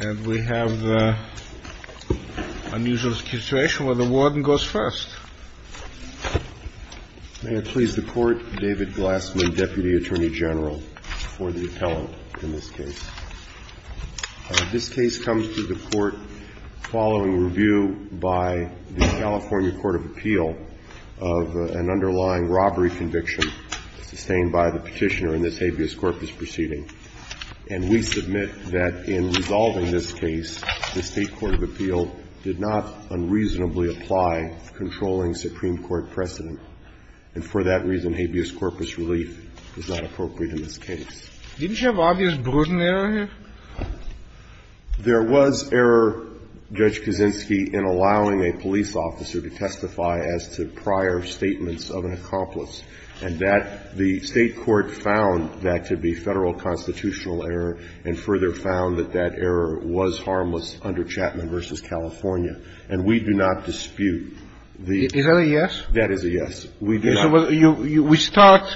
And we have the unusual situation where the warden goes first. May it please the Court, David Glassman, Deputy Attorney General for the appellant in this case. This case comes to the Court following review by the California Court of Appeal of an underlying robbery conviction sustained by the petitioner in this habeas corpus proceeding. And we submit that in resolving this case, the State Court of Appeal did not unreasonably apply controlling Supreme Court precedent. And for that reason, habeas corpus relief is not appropriate in this case. Didn't you have habeas bruden error here? There was error, Judge Kaczynski, in allowing a police officer to testify as to prior statements of an accomplice. And that the State court found that to be Federal constitutional error and further found that that error was harmless under Chapman v. California. And we do not dispute the ---- Is that a yes? That is a yes. We do not. We start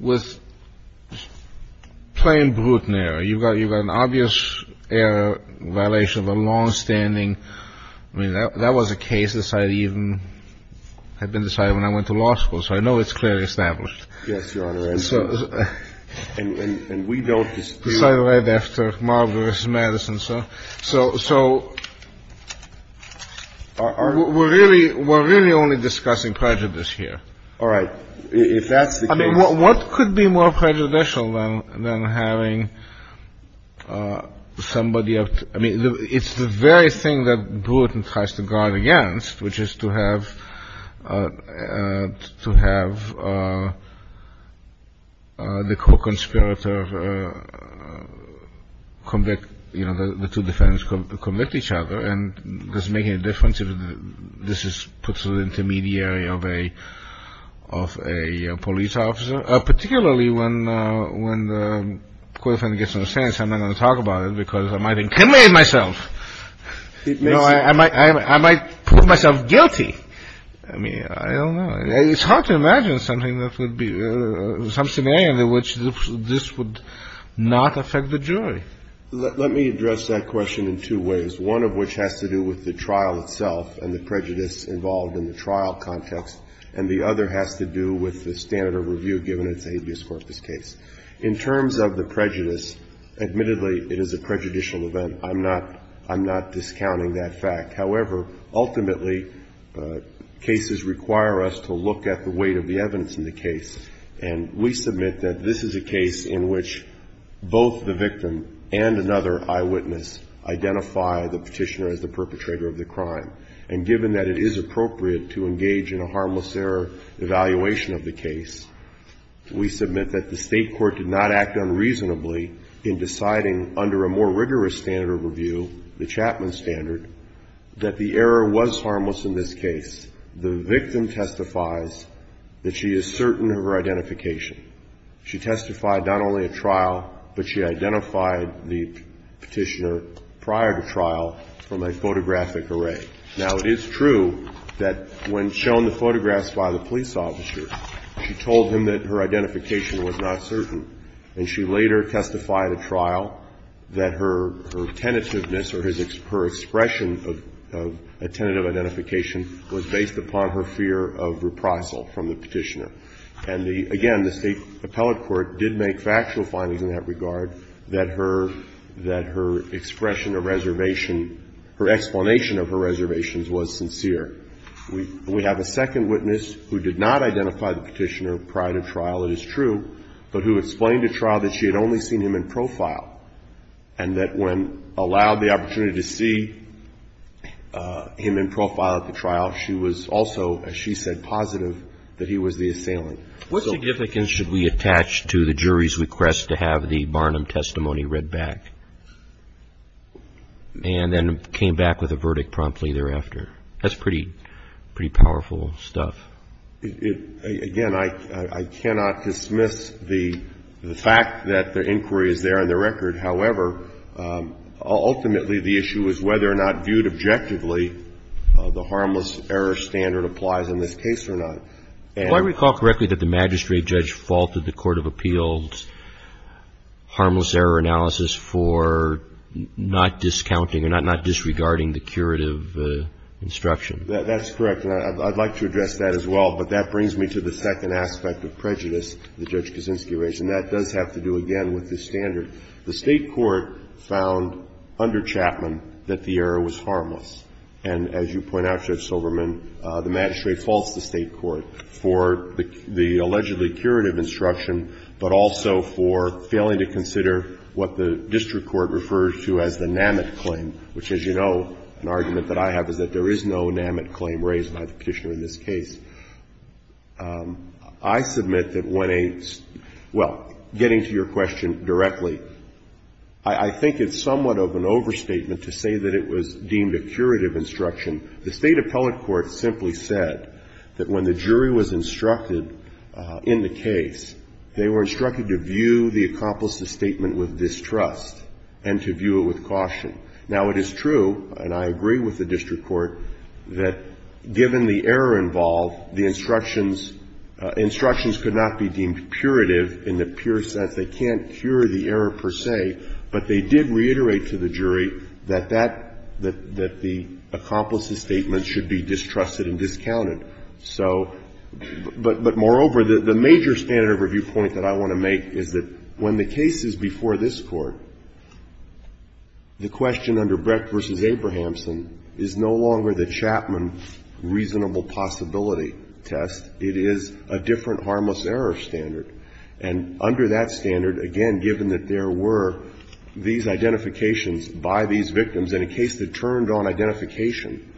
with plain bruden error. You've got an obvious error, violation of a longstanding ---- I mean, that was a case that I even had been deciding when I went to law school. So I know it's clearly established. Yes, Your Honor. And we don't dispute ---- So I read after Marver v. Madison. So we're really only discussing prejudice here. All right. If that's the case ---- I mean, what could be more prejudicial than having somebody ---- I mean, it's the very thing that bruden tries to guard against, which is to have the co-conspirator convict, you know, the two defendants convict each other. And does it make any difference if this is put to the intermediary of a police officer, particularly when the co-defendant gets on the fence? I'm not going to talk about it because I might incriminate myself. I might prove myself guilty. I mean, I don't know. It's hard to imagine something that would be ---- some scenario in which this would not affect the jury. Let me address that question in two ways, one of which has to do with the trial itself and the prejudice involved in the trial context, and the other has to do with the standard of review given it's an habeas corpus case. In terms of the prejudice, admittedly, it is a prejudicial event. I'm not ---- I'm not discounting that fact. However, ultimately, cases require us to look at the weight of the evidence in the case, and we submit that this is a case in which both the victim and another eyewitness identify the Petitioner as the perpetrator of the crime. And given that it is appropriate to engage in a harmless error evaluation of the case, we submit that the State court did not act unreasonably in deciding under a more rigorous standard of review, the Chapman standard, that the error was harmless in this case. The victim testifies that she is certain of her identification. She testified not only at trial, but she identified the Petitioner prior to trial from a photographic array. Now, it is true that when shown the photographs by the police officer, she told him that her identification was not certain, and she later testified at trial that her tentativeness or her expression of a tentative identification was based upon her fear of reprisal from the Petitioner. And the ---- again, the State appellate court did make factual findings in that regard, that her expression of reservation, her explanation of her reservations was sincere. We have a second witness who did not identify the Petitioner prior to trial, it is true, but who explained to trial that she had only seen him in profile, and that when allowed the opportunity to see him in profile at the trial, she was also, as she said, positive that he was the assailant. So we have a second witness who did not identify the Petitioner prior to trial, at the trial, she was also, as she said, positive that he was the assailant. So what significance should we attach to the jury's request to have the Barnum testimony read back and then came back with a verdict promptly thereafter? That's pretty powerful stuff. Again, I cannot dismiss the fact that the inquiry is there on the record. However, ultimately, the issue is whether or not, viewed objectively, the harmless error standard applies in this case or not. Do I recall correctly that the magistrate judge faulted the Court of Appeals' harmless error analysis for not discounting or not disregarding the curative instruction? That's correct. And I'd like to address that as well. But that brings me to the second aspect of prejudice that Judge Kaczynski raised, and that does have to do, again, with this standard. The State Court found under Chapman that the error was harmless. And as you point out, Judge Silberman, the magistrate faults the State Court for the allegedly curative instruction, but also for failing to consider what the district court refers to as the NAMIT claim, which, as you know, an argument that I have is that there is no NAMIT claim raised by the Petitioner in this case. I submit that when a — well, getting to your question directly, I think it's somewhat of an overstatement to say that it was deemed a curative instruction. The State appellate court simply said that when the jury was instructed in the case, they were instructed to view the accomplice's statement with distrust and to view it with caution. Now, it is true, and I agree with the district court, that given the error involved, the instructions — instructions could not be deemed curative in the pure sense. They can't cure the error per se, but they did reiterate to the jury that that — that the accomplice's statement should be distrusted and discounted. So — but moreover, the major standard of review point that I want to make is that when the case is before this Court, the question under Brecht v. Abrahamson is no longer the Chapman reasonable possibility test. It is a different harmless error standard. And under that standard, again, given that there were these identifications by these victims in a case that turned on identification,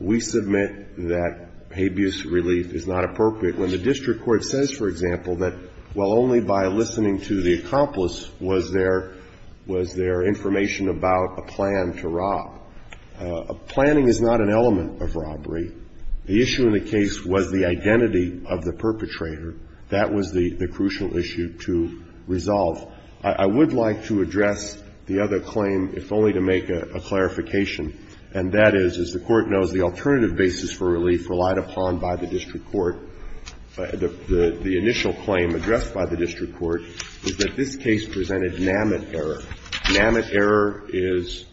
we submit that habeas relief is not appropriate when the district court says, for example, that, well, only by listening to the accomplice was there — was there information about a plan to rob. Planning is not an element of robbery. The issue in the case was the identity of the perpetrator. That was the crucial issue to resolve. I would like to address the other claim, if only to make a clarification, and that is, as the Court knows, the alternative basis for relief relied upon by the district court. The initial claim addressed by the district court is that this case presented NAMIT error. NAMIT error is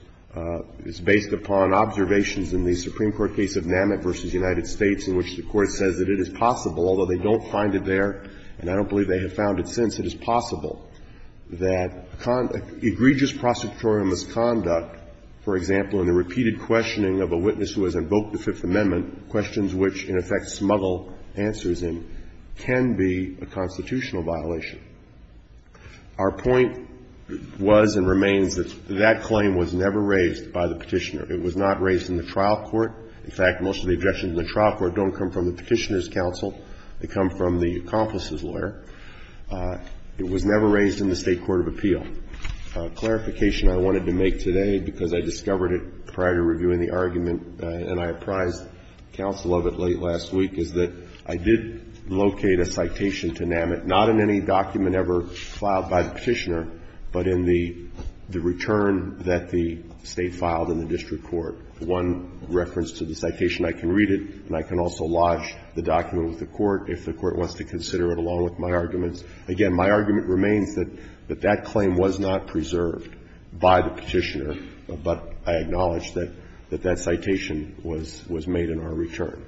based upon observations in the Supreme Court case of NAMIT v. United States in which the Court says that it is possible, although they don't find it there and I don't believe they have found it since, it is possible that egregious prosecutorial misconduct, for example, in the repeated questioning of a witness who has invoked the Fifth Amendment, questions which, in effect, smuggle answers in, can be a constitutional violation. Our point was and remains that that claim was never raised by the Petitioner. It was not raised in the trial court. In fact, most of the objections in the trial court don't come from the Petitioner's counsel. They come from the accomplice's lawyer. It was never raised in the State court of appeal. A clarification I wanted to make today, because I discovered it prior to reviewing the argument and I apprised counsel of it late last week, is that I did locate a citation to NAMIT, not in any document ever filed by the Petitioner, but in the return that the State filed in the district court. One reference to the citation, I can read it and I can also lodge the document with the court if the court wants to consider it along with my arguments. Again, my argument remains that that claim was not preserved by the Petitioner, but I acknowledge that that citation was made in our return.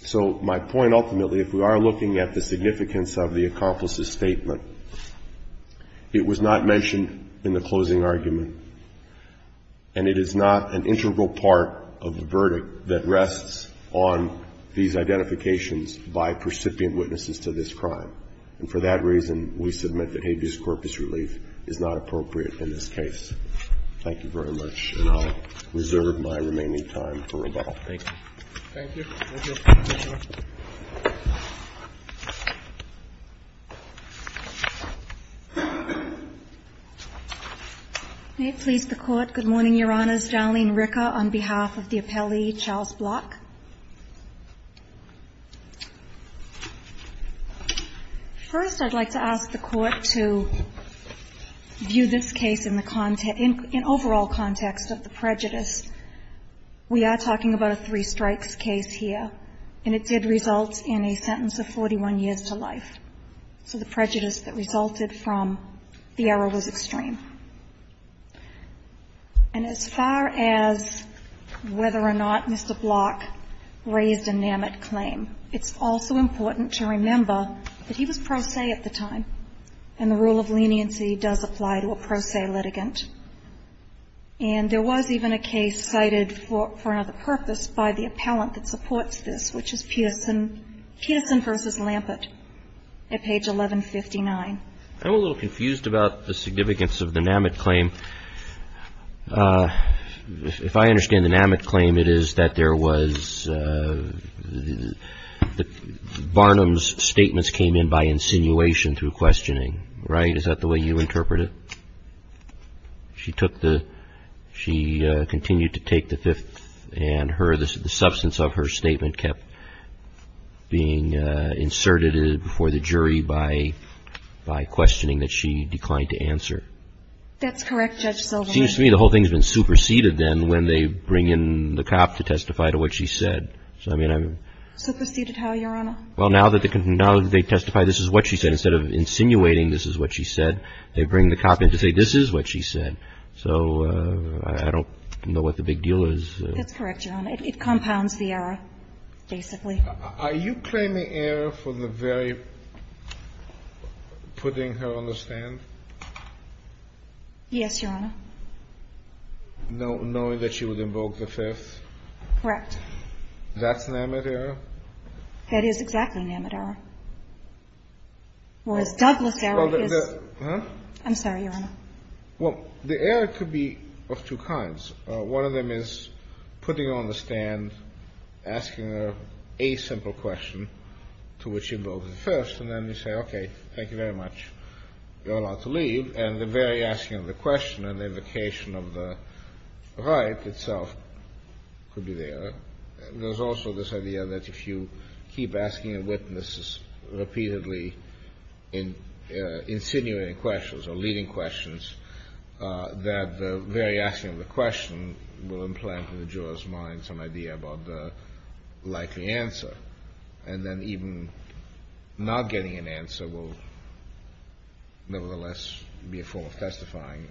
So my point ultimately, if we are looking at the significance of the accomplice's statement, it was not mentioned in the closing argument, and it is not an integral part of the verdict that rests on these identifications by percipient witnesses to this crime. And for that reason, we submit that habeas corpus relief is not appropriate in this case. Thank you very much, and I'll reserve my remaining time for rebuttal. Thank you. Thank you. Thank you, Mr. Petitioner. May it please the Court. Good morning, Your Honors. Darlene Ricker on behalf of the appellee, Charles Block. First, I'd like to ask the Court to view this case in the context, in overall context of the prejudice. We are talking about a three strikes case here, and it did result in a sentence of 41 years to life. So the prejudice that resulted from the error was extreme. And as far as whether or not Mr. Block raised a NAMIT claim, it's also important to remember that he was pro se at the time, and the rule of leniency does apply to a pro se litigant. And there was even a case cited for another purpose by the appellant that supports this, which is Peterson v. Lampert at page 1159. I'm a little confused about the significance of the NAMIT claim. If I understand the NAMIT claim, it is that there was Barnum's statements came in by insinuation through questioning. Right? Is that the way you interpret it? She took the – she continued to take the fifth, and her – the substance of her statement kept being inserted before the jury by questioning that she declined to answer. That's correct, Judge Silverman. It seems to me the whole thing has been superseded then when they bring in the cop to testify to what she said. Superseded how, Your Honor? Well, now that they testify this is what she said, instead of insinuating this is what she said, they bring the cop in to say this is what she said. So I don't know what the big deal is. That's correct, Your Honor. It compounds the error, basically. Are you claiming error for the very – putting her on the stand? Yes, Your Honor. Knowing that she would invoke the fifth? Correct. That's NAMIT error? That is exactly NAMIT error. Whereas Douglas error is – I'm sorry, Your Honor. Well, the error could be of two kinds. One of them is putting her on the stand, asking her a simple question to which she invoked the first, and then you say, okay, thank you very much, you're allowed to leave. And the very asking of the question and the invocation of the right itself could be the error. There's also this idea that if you keep asking witnesses repeatedly insinuating questions or leading questions, that the very asking of the question will implant in the juror's mind some idea about the likely answer, and then even not getting an answer will nevertheless be a form of testifying.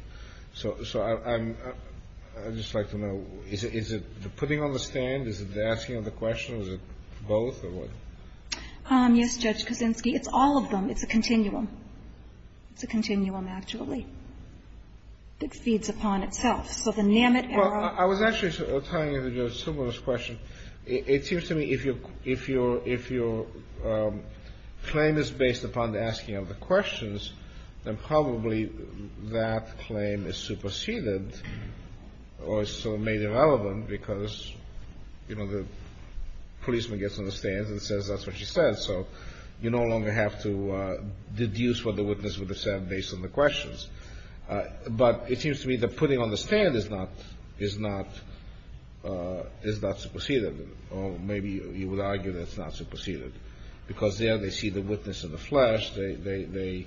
So I'm – I'd just like to know, is it the putting on the stand? Is it the asking of the question? Is it both or what? Yes, Judge Kuczynski, it's all of them. It's a continuum. It's a continuum, actually, that feeds upon itself. So the NAMIT error – Well, I was actually tying into your similar question. It seems to me if your claim is based upon the asking of the questions, then probably that claim is superseded or is sort of made irrelevant because, you know, the policeman gets on the stand and says that's what she said, so you no longer have to deduce what the witness would have said based on the questions. But it seems to me the putting on the stand is not – is not – is not superseded, or maybe you would argue that it's not superseded, because there they see the witness in the flesh, they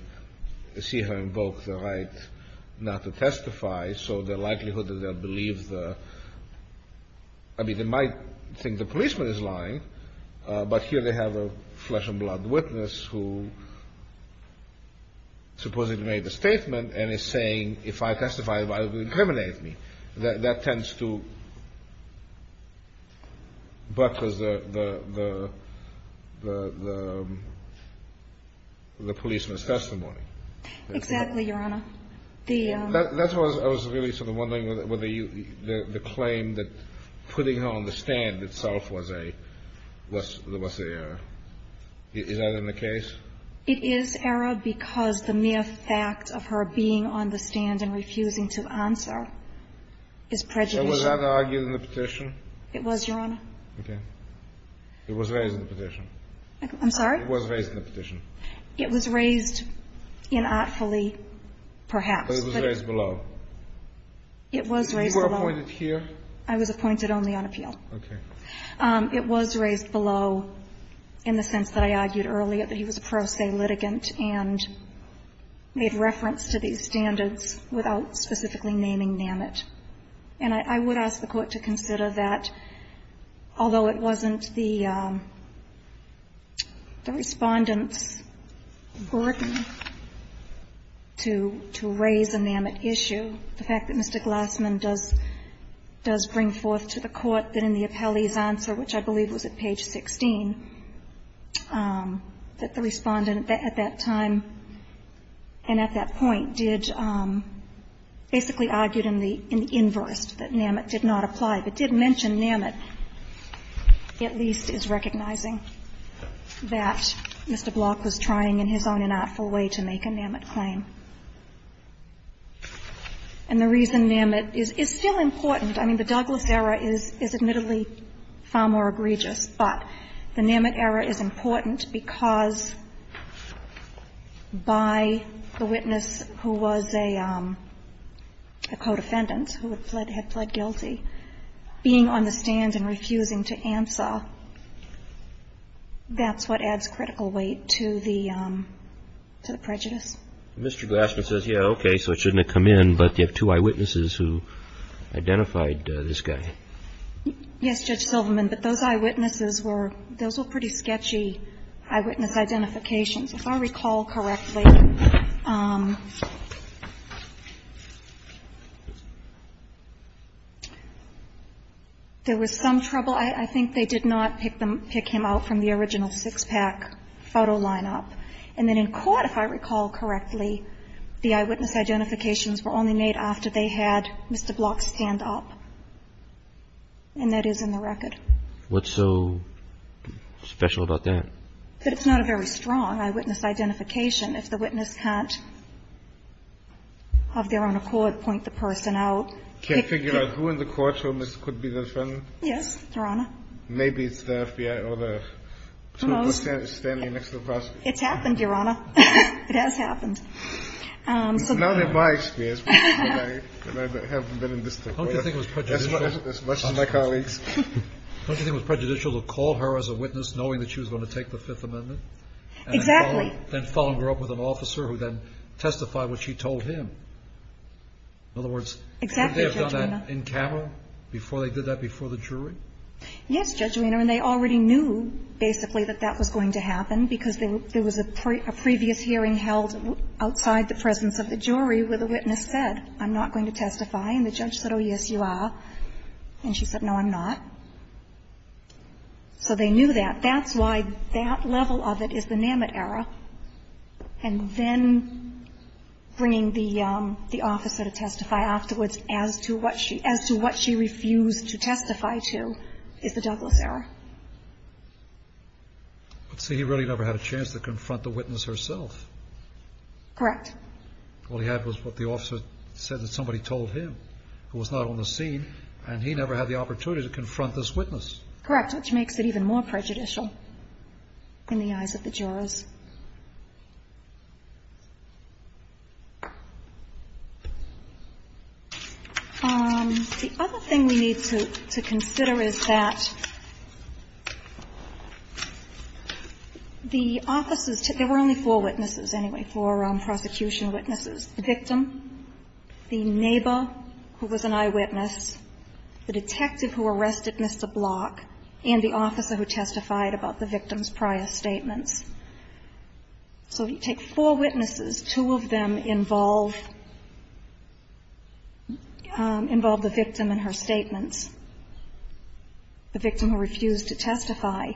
see her invoke the right not to testify, so the likelihood that they'll believe the – I mean, they might think the policeman is lying, but here they have a flesh-and-blood witness who supposedly made the statement and is saying if I testify, they'll incriminate me. That tends to buttress the policeman's testimony. Exactly, Your Honor. The – That's what I was really sort of wondering, whether you – the claim that putting her on the stand itself was a – was a – is that in the case? It is, Erra, because the mere fact of her being on the stand and refusing to answer is prejudicial. So was that argued in the petition? It was, Your Honor. Okay. It was raised in the petition. I'm sorry? It was raised in the petition. It was raised inartfully, perhaps. But it was raised below. It was raised below. You were appointed here? I was appointed only on appeal. Okay. It was raised below in the sense that I argued earlier that he was a pro se litigant and made reference to these standards without specifically naming NAMIT. And I would ask the Court to consider that, although it wasn't the Respondent's burden to raise a NAMIT issue, the fact that Mr. Glassman does bring forth to the Court that in the appellee's answer, which I believe was at page 16, that the Respondent at that time and at that point did basically argue in the inverse, that NAMIT did not apply, but did mention NAMIT, at least is recognizing that Mr. Block was trying in his own inartful way to make a NAMIT claim. And the reason NAMIT is still important, I mean, the Douglas error is admittedly far more egregious, but the NAMIT error is important because by the witness who was a co-defendant, who had fled guilty, being on the stand and refusing to answer, that's what adds critical weight to the prejudice. Mr. Glassman says, yeah, okay, so it shouldn't have come in, but you have two eyewitnesses who identified this guy. Yes, Judge Silverman, but those eyewitnesses were, those were pretty sketchy eyewitness identifications. If I recall correctly, there was some trouble. I think they did not pick him out from the original six-pack photo lineup. And then in court, if I recall correctly, the eyewitness identifications were only made after they had Mr. Block stand up. And that is in the record. What's so special about that? That it's not a very strong eyewitness identification. If the witness can't, of their own accord, point the person out. Can't figure out who in the courtroom could be the defendant? Yes, Your Honor. Maybe it's the FBI or the two persons standing next to the prosecutor. It's happened, Your Honor. It has happened. Not in my experience, but I have been in this situation as much as my colleagues. Don't you think it was prejudicial to call her as a witness knowing that she was going to take the Fifth Amendment? Exactly. And then follow her up with an officer who then testified what she told him. In other words, didn't they have done that in camera before they did that before the jury? Yes, Judge Arena, and they already knew, basically, that that was going to happen because there was a previous hearing held outside the presence of the jury where the witness said, I'm not going to testify. And the judge said, oh, yes, you are. And she said, no, I'm not. So they knew that. That's why that level of it is the NAMIT error. And then bringing the officer to testify afterwards as to what she refused to testify to is the Douglas error. But see, he really never had a chance to confront the witness herself. Correct. All he had was what the officer said that somebody told him, who was not on the scene, and he never had the opportunity to confront this witness. Correct. Which makes it even more prejudicial in the eyes of the jurors. The other thing we need to consider is that the officers, there were only four witnesses, anyway, four prosecution witnesses, the victim, the neighbor who was an eyewitness, the detective who arrested Mr. Block, and the officer who testified about the victim's prior statements. So you take four witnesses, two of them involve the victim in her statements, the victim who refused to testify.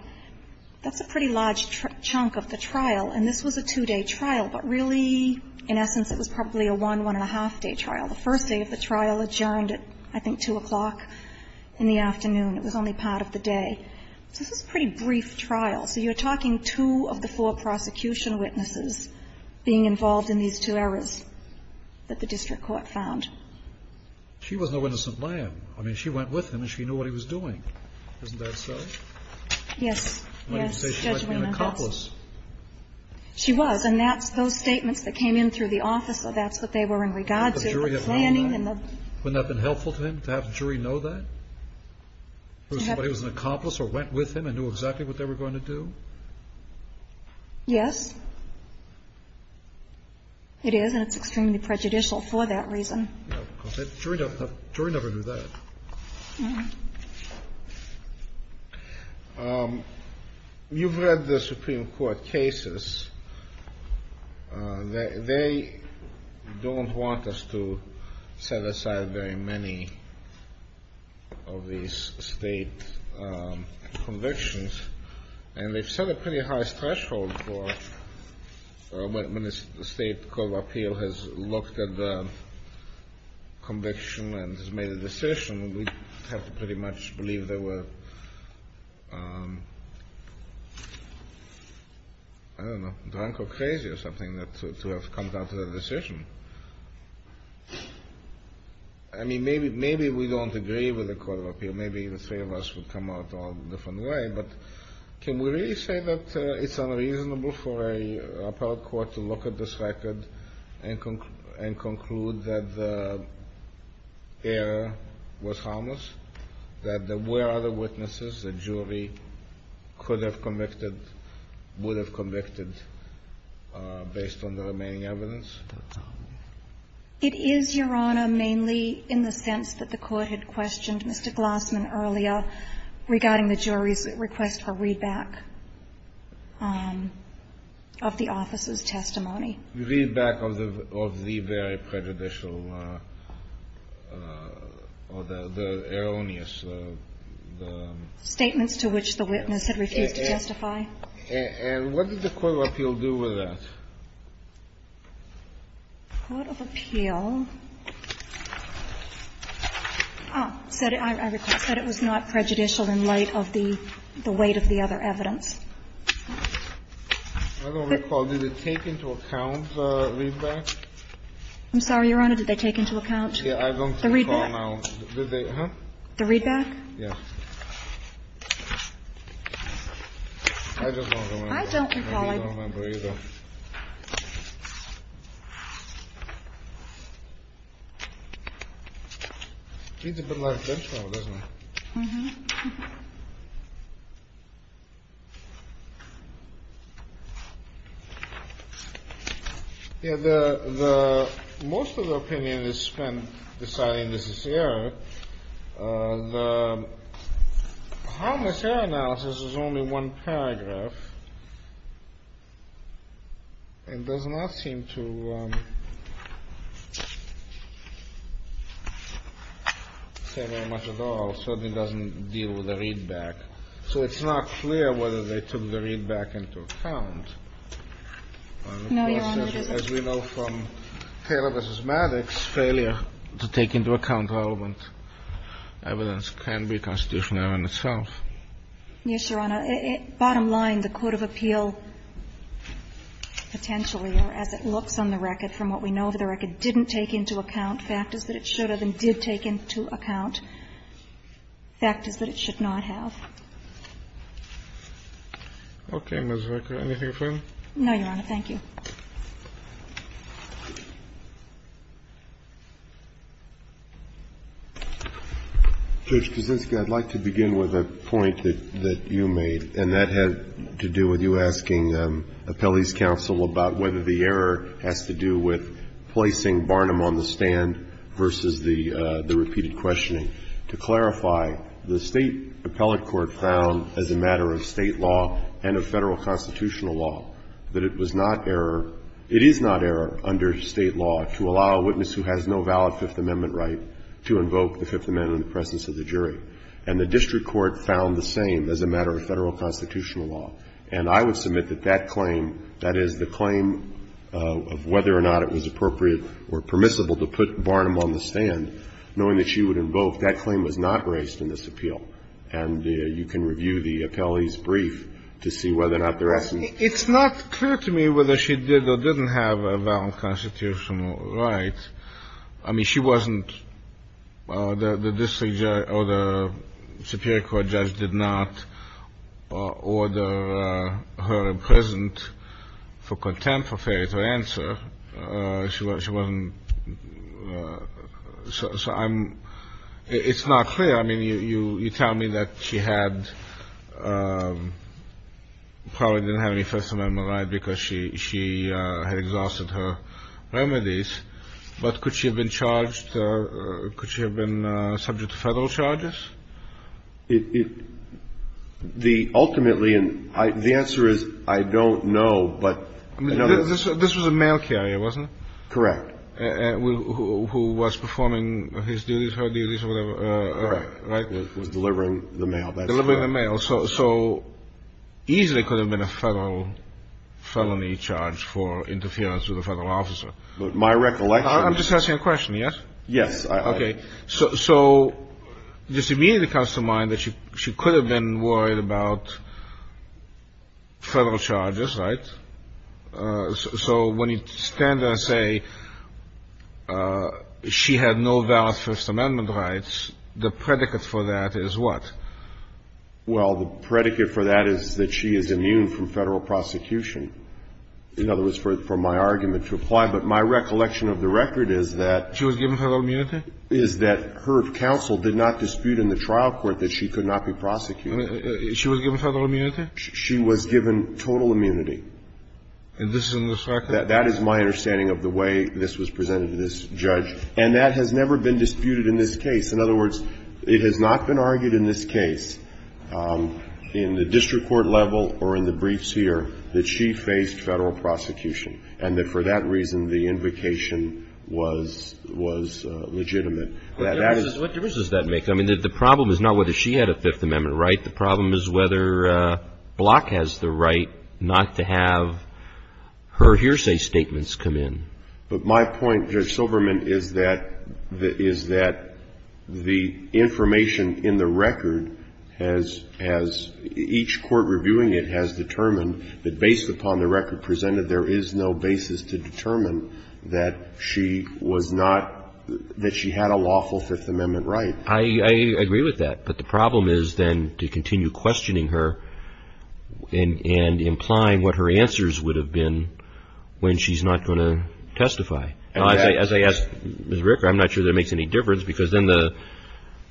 That's a pretty large chunk of the trial. And this was a two-day trial, but really, in essence, it was probably a one, one-and-a-half-day trial. The first day of the trial adjourned at, I think, 2 o'clock in the afternoon. It was only part of the day. So this was a pretty brief trial. So you're talking two of the four prosecution witnesses being involved in these two errors that the district court found. She was no innocent lamb. I mean, she went with him, and she knew what he was doing. Isn't that so? Yes. Yes. I mean, you could say she might have been an accomplice. She was, and that's those statements that came in through the officer, that's what they were in regard to, the planning. Wouldn't that have been helpful to him, to have the jury know that? Somebody was an accomplice or went with him and knew exactly what they were going to do? Yes. It is, and it's extremely prejudicial for that reason. The jury never knew that. No. You've read the Supreme Court cases. They don't want us to set aside very many of these state convictions, and they've set a pretty high threshold for when a state court of appeal has looked at the conviction and has made a decision. We have to pretty much believe they were, I don't know, drunk or crazy or something to have come out with a decision. I mean, maybe we don't agree with the court of appeal. Maybe the three of us would come out all a different way, but can we really say that it's unreasonable for a appellate court to look at this record and conclude that the error was harmless, that there were other witnesses the jury could have convicted, would have convicted based on the remaining evidence? It is, Your Honor, mainly in the sense that the court had questioned Mr. Glossman earlier regarding the jury's request for readback of the office's testimony. Readback of the very prejudicial or the erroneous. Statements to which the witness had refused to justify. And what did the court of appeal do with that? The court of appeal said it was not prejudicial in light of the weight of the other evidence. I don't recall. Did it take into account the readback? I'm sorry, Your Honor. Did they take into account the readback? Yeah, I don't recall now. Did they, huh? The readback? Yeah. I just don't remember. I don't recall either. I don't remember either. It's a bit like a benchmark, isn't it? Mm-hmm. Yeah, most of the opinion is spent deciding this is error. The harmless error analysis is only one paragraph. It does not seem to say very much at all. It certainly doesn't deal with the readback. So it's not clear whether they took the readback into account. No, Your Honor, it is not. As we know from Taylor v. Maddox, failure to take into account relevant evidence. Yes, Your Honor. Bottom line, the court of appeal, potentially, or as it looks on the record from what we know of the record, didn't take into account factors that it should have and did take into account factors that it should not have. Okay, Ms. Vacker, anything further? No, Your Honor. Thank you. Judge Kuczynski, I'd like to begin with a point that you made, and that had to do with you asking appellees' counsel about whether the error has to do with placing Barnum on the stand versus the repeated questioning. To clarify, the State appellate court found, as a matter of State law and of Federal constitutional law, that it was not error, it is not error under State law to allow a witness who has no valid Fifth Amendment right to invoke the Fifth Amendment in the presence of the jury. And the district court found the same as a matter of Federal constitutional law. And I would submit that that claim, that is, the claim of whether or not it was appropriate or permissible to put Barnum on the stand, knowing that she would invoke, that claim was not raised in this appeal. And you can review the appellee's brief to see whether or not there is an error. It's not clear to me whether she did or didn't have a valid constitutional right. I mean, she wasn't the district judge or the superior court judge did not order her imprisoned for contempt of faith or answer. She wasn't. So I'm — it's not clear. I mean, you tell me that she had — probably didn't have any First Amendment right because she had exhausted her remedies. But could she have been charged — could she have been subject to Federal charges? It — the — ultimately, and the answer is I don't know, but another — I mean, this was a mail carrier, wasn't it? Correct. Who was performing his duties, her duties or whatever? Right. Was delivering the mail. Delivering the mail. So easily could have been a Federal felony charge for interference with a Federal officer. My recollection — I'm just asking a question, yes? Yes. Okay. So this immediately comes to mind that she could have been worried about Federal charges, right? So when you stand there and say she had no valid First Amendment rights, the predicate for that is what? Well, the predicate for that is that she is immune from Federal prosecution. In other words, for my argument to apply. But my recollection of the record is that — She was given Federal immunity? Is that her counsel did not dispute in the trial court that she could not be prosecuted. She was given Federal immunity? She was given total immunity. And this is in this record? That is my understanding of the way this was presented to this judge. And that has never been disputed in this case. In other words, it has not been argued in this case, in the district court level or in the briefs here, that she faced Federal prosecution and that for that reason the invocation was legitimate. What difference does that make? I mean, the problem is not whether she had a Fifth Amendment right. The problem is whether Block has the right not to have her hearsay statements come in. But my point, Judge Silverman, is that the information in the record has — each court reviewing it has determined that based upon the record presented, there is no basis to determine that she was not — that she had a lawful Fifth Amendment right. I agree with that. But the problem is then to continue questioning her and implying what her answers would have been when she's not going to testify. As I ask Ms. Ricker, I'm not sure that it makes any difference, because then the —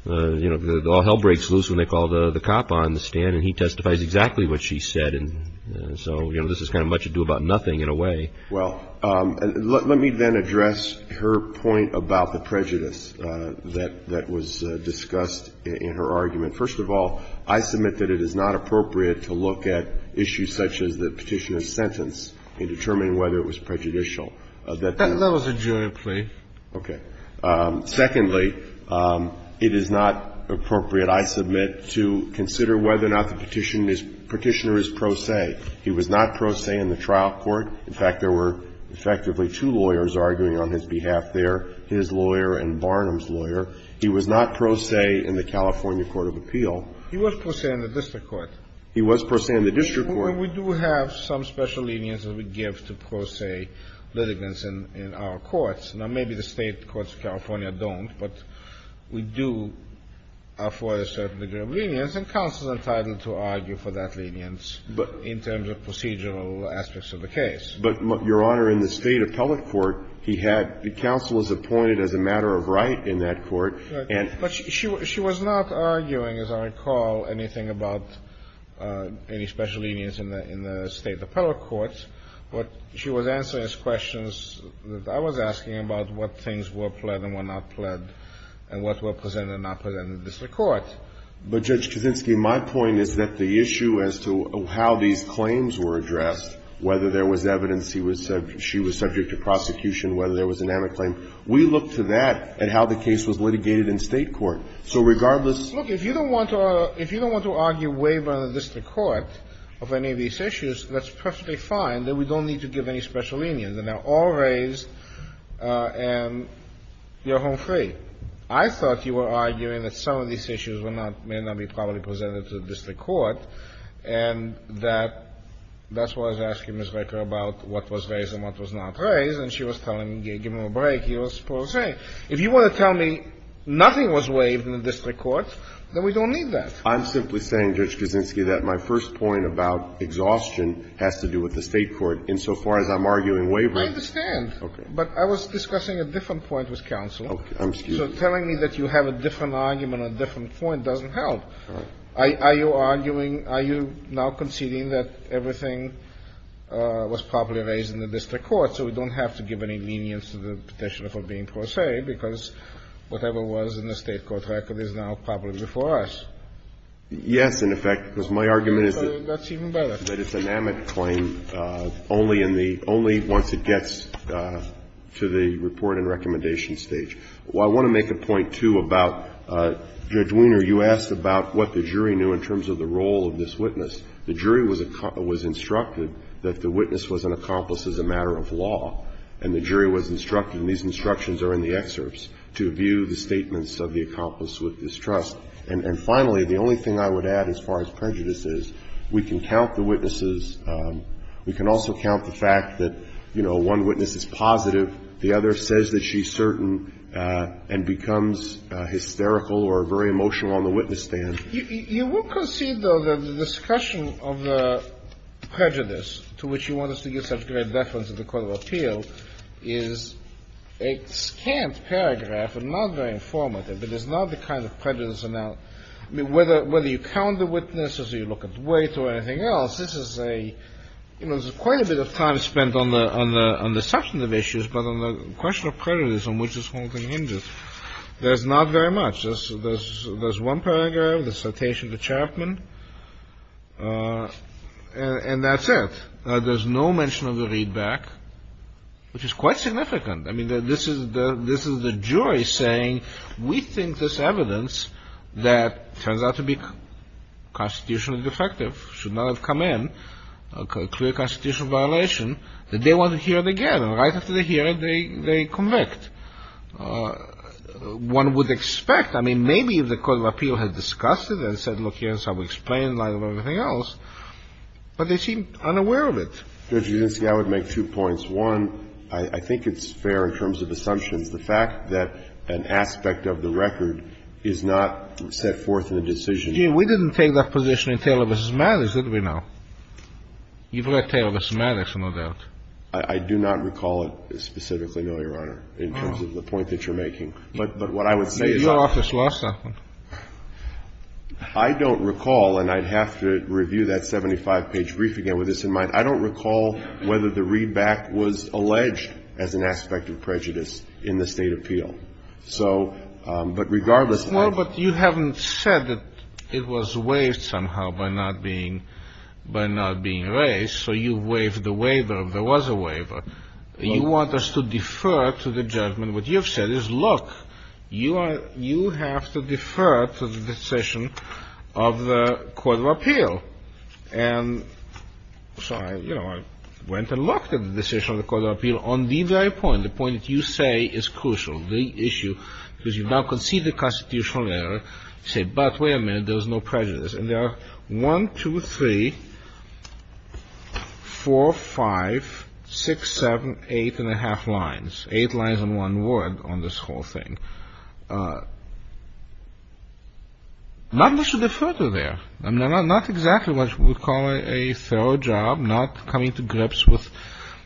you know, all hell breaks loose when they call the cop on the stand and he testifies exactly what she said. And so, you know, this is kind of much ado about nothing in a way. Well, let me then address her point about the prejudice that was discussed in her argument. First of all, I submit that it is not appropriate to look at issues such as the Petitioner's sentence in determining whether it was prejudicial. That was a jury plea. Okay. Secondly, it is not appropriate, I submit, to consider whether or not the Petitioner is pro se. He was not pro se in the trial court. In fact, there were effectively two lawyers arguing on his behalf there, his lawyer and Barnum's lawyer. He was not pro se in the California court of appeal. He was pro se in the district court. He was pro se in the district court. Well, we do have some special lenience that we give to pro se litigants in our courts. Now, maybe the State courts of California don't, but we do afford a certain degree of lenience, and counsel is entitled to argue for that lenience in terms of procedural aspects of the case. But, Your Honor, in the State appellate court, he had the counsel is appointed as a matter of right in that court. But she was not arguing, as I recall, anything about any special lenience in the State appellate courts, but she was answering his questions. I was asking about what things were pled and were not pled and what were presented and not presented in the district court. But, Judge Kaczynski, my point is that the issue as to how these claims were addressed, whether there was evidence she was subject to prosecution, whether there was an amic claim, we look to that and how the case was litigated in State court. So, regardless of the case. Look, if you don't want to argue waiver in the district court of any of these issues, let's perfectly fine that we don't need to give any special lenience, and they're all raised, and you're home free. I thought you were arguing that some of these issues may not be properly presented in the district court, and that's why I was asking Ms. Reker about what was raised and what was not raised, and she was telling me, giving him a break, he was supposed to say, if you want to tell me nothing was waived in the district court, then we don't need that. I'm simply saying, Judge Kaczynski, that my first point about exhaustion has to do with the State court insofar as I'm arguing waiver. I understand. Okay. But I was discussing a different point with counsel. Okay. I'm excused. So telling me that you have a different argument on a different point doesn't help. All right. Are you arguing, are you now conceding that everything was properly raised in the district court, so we don't have to give any lenience to the petitioner for being pro se because whatever was in the State court record is now properly before us? Yes, in effect, because my argument is that it's an amic claim only in the — only once it gets to the report and recommendation stage. I want to make a point, too, about, Judge Weiner, you asked about what the jury knew in terms of the role of this witness. The jury was instructed that the witness was an accomplice as a matter of law. And the jury was instructed, and these instructions are in the excerpts, to view the statements of the accomplice with distrust. And finally, the only thing I would add as far as prejudice is, we can count the witnesses — we can also count the fact that, you know, one witness is positive, the other says that she's certain, and becomes hysterical or very emotional on the witness stand. You will concede, though, that the discussion of the prejudice to which you want us to give such great deference in the court of appeal is a scant paragraph and not very informative, but it's not the kind of prejudice that now — I mean, whether you count the witnesses or you look at the weight or anything else, this is a — you know, the discussion of prejudice on which this whole thing hinges, there's not very much. There's one paragraph, the citation to Chapman, and that's it. There's no mention of the readback, which is quite significant. I mean, this is the jury saying, we think this evidence that turns out to be constitutionally defective, should not have come in, a clear constitutional violation, that they want to hear it again. And right after they hear it, they convict. One would expect — I mean, maybe if the court of appeal had discussed it and said, look, here's how we explain in light of everything else, but they seem unaware of it. Justice Kennedy, I would make two points. One, I think it's fair in terms of assumptions, the fact that an aspect of the record is not set forth in the decision. Gene, we didn't take that position in Taylor v. Maddox, did we now? You've read Taylor v. Maddox, no doubt. I do not recall it specifically, no, Your Honor, in terms of the point that you're making. But what I would say is that — Your office lost that one. I don't recall, and I'd have to review that 75-page brief again with this in mind, I don't recall whether the readback was alleged as an aspect of prejudice in the State appeal. So, but regardless — Well, but you haven't said that it was waived somehow by not being — by not being raised. So you waived the waiver. There was a waiver. You want us to defer to the judgment. What you have said is, look, you are — you have to defer to the decision of the court of appeal. And so I, you know, I went and looked at the decision of the court of appeal on the very point, the point that you say is crucial, the issue, because you've now conceded a constitutional error. You say, but wait a minute, there was no prejudice. And there are one, two, three, four, five, six, seven, eight and a half lines, eight lines in one word on this whole thing. Not much to defer to there. I mean, not exactly what we would call a thorough job, not coming to grips with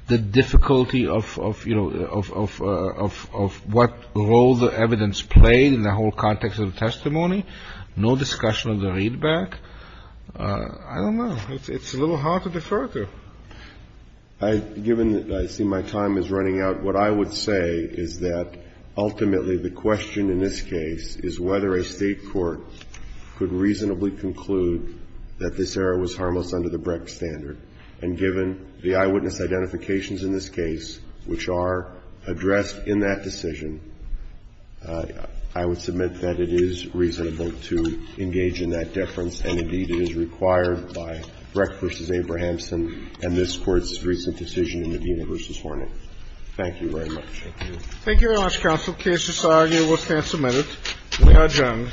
the difficulty of, you know, of what role the evidence played in the whole context of the testimony. No discussion of the readback. I don't know. It's a little hard to defer to. I, given that I see my time is running out, what I would say is that ultimately the question in this case is whether a State court could reasonably conclude that this error was harmless under the Brecht standard. And given the eyewitness identifications in this case, which are addressed in that decision, I would submit that it is reasonable to engage in that deference, and indeed it is required by Brecht v. Abrahamson and this Court's recent decision in Medina v. Hornet. Thank you very much. Thank you. Thank you very much, counsel. The case is argued and will stand submitted. We are adjourned.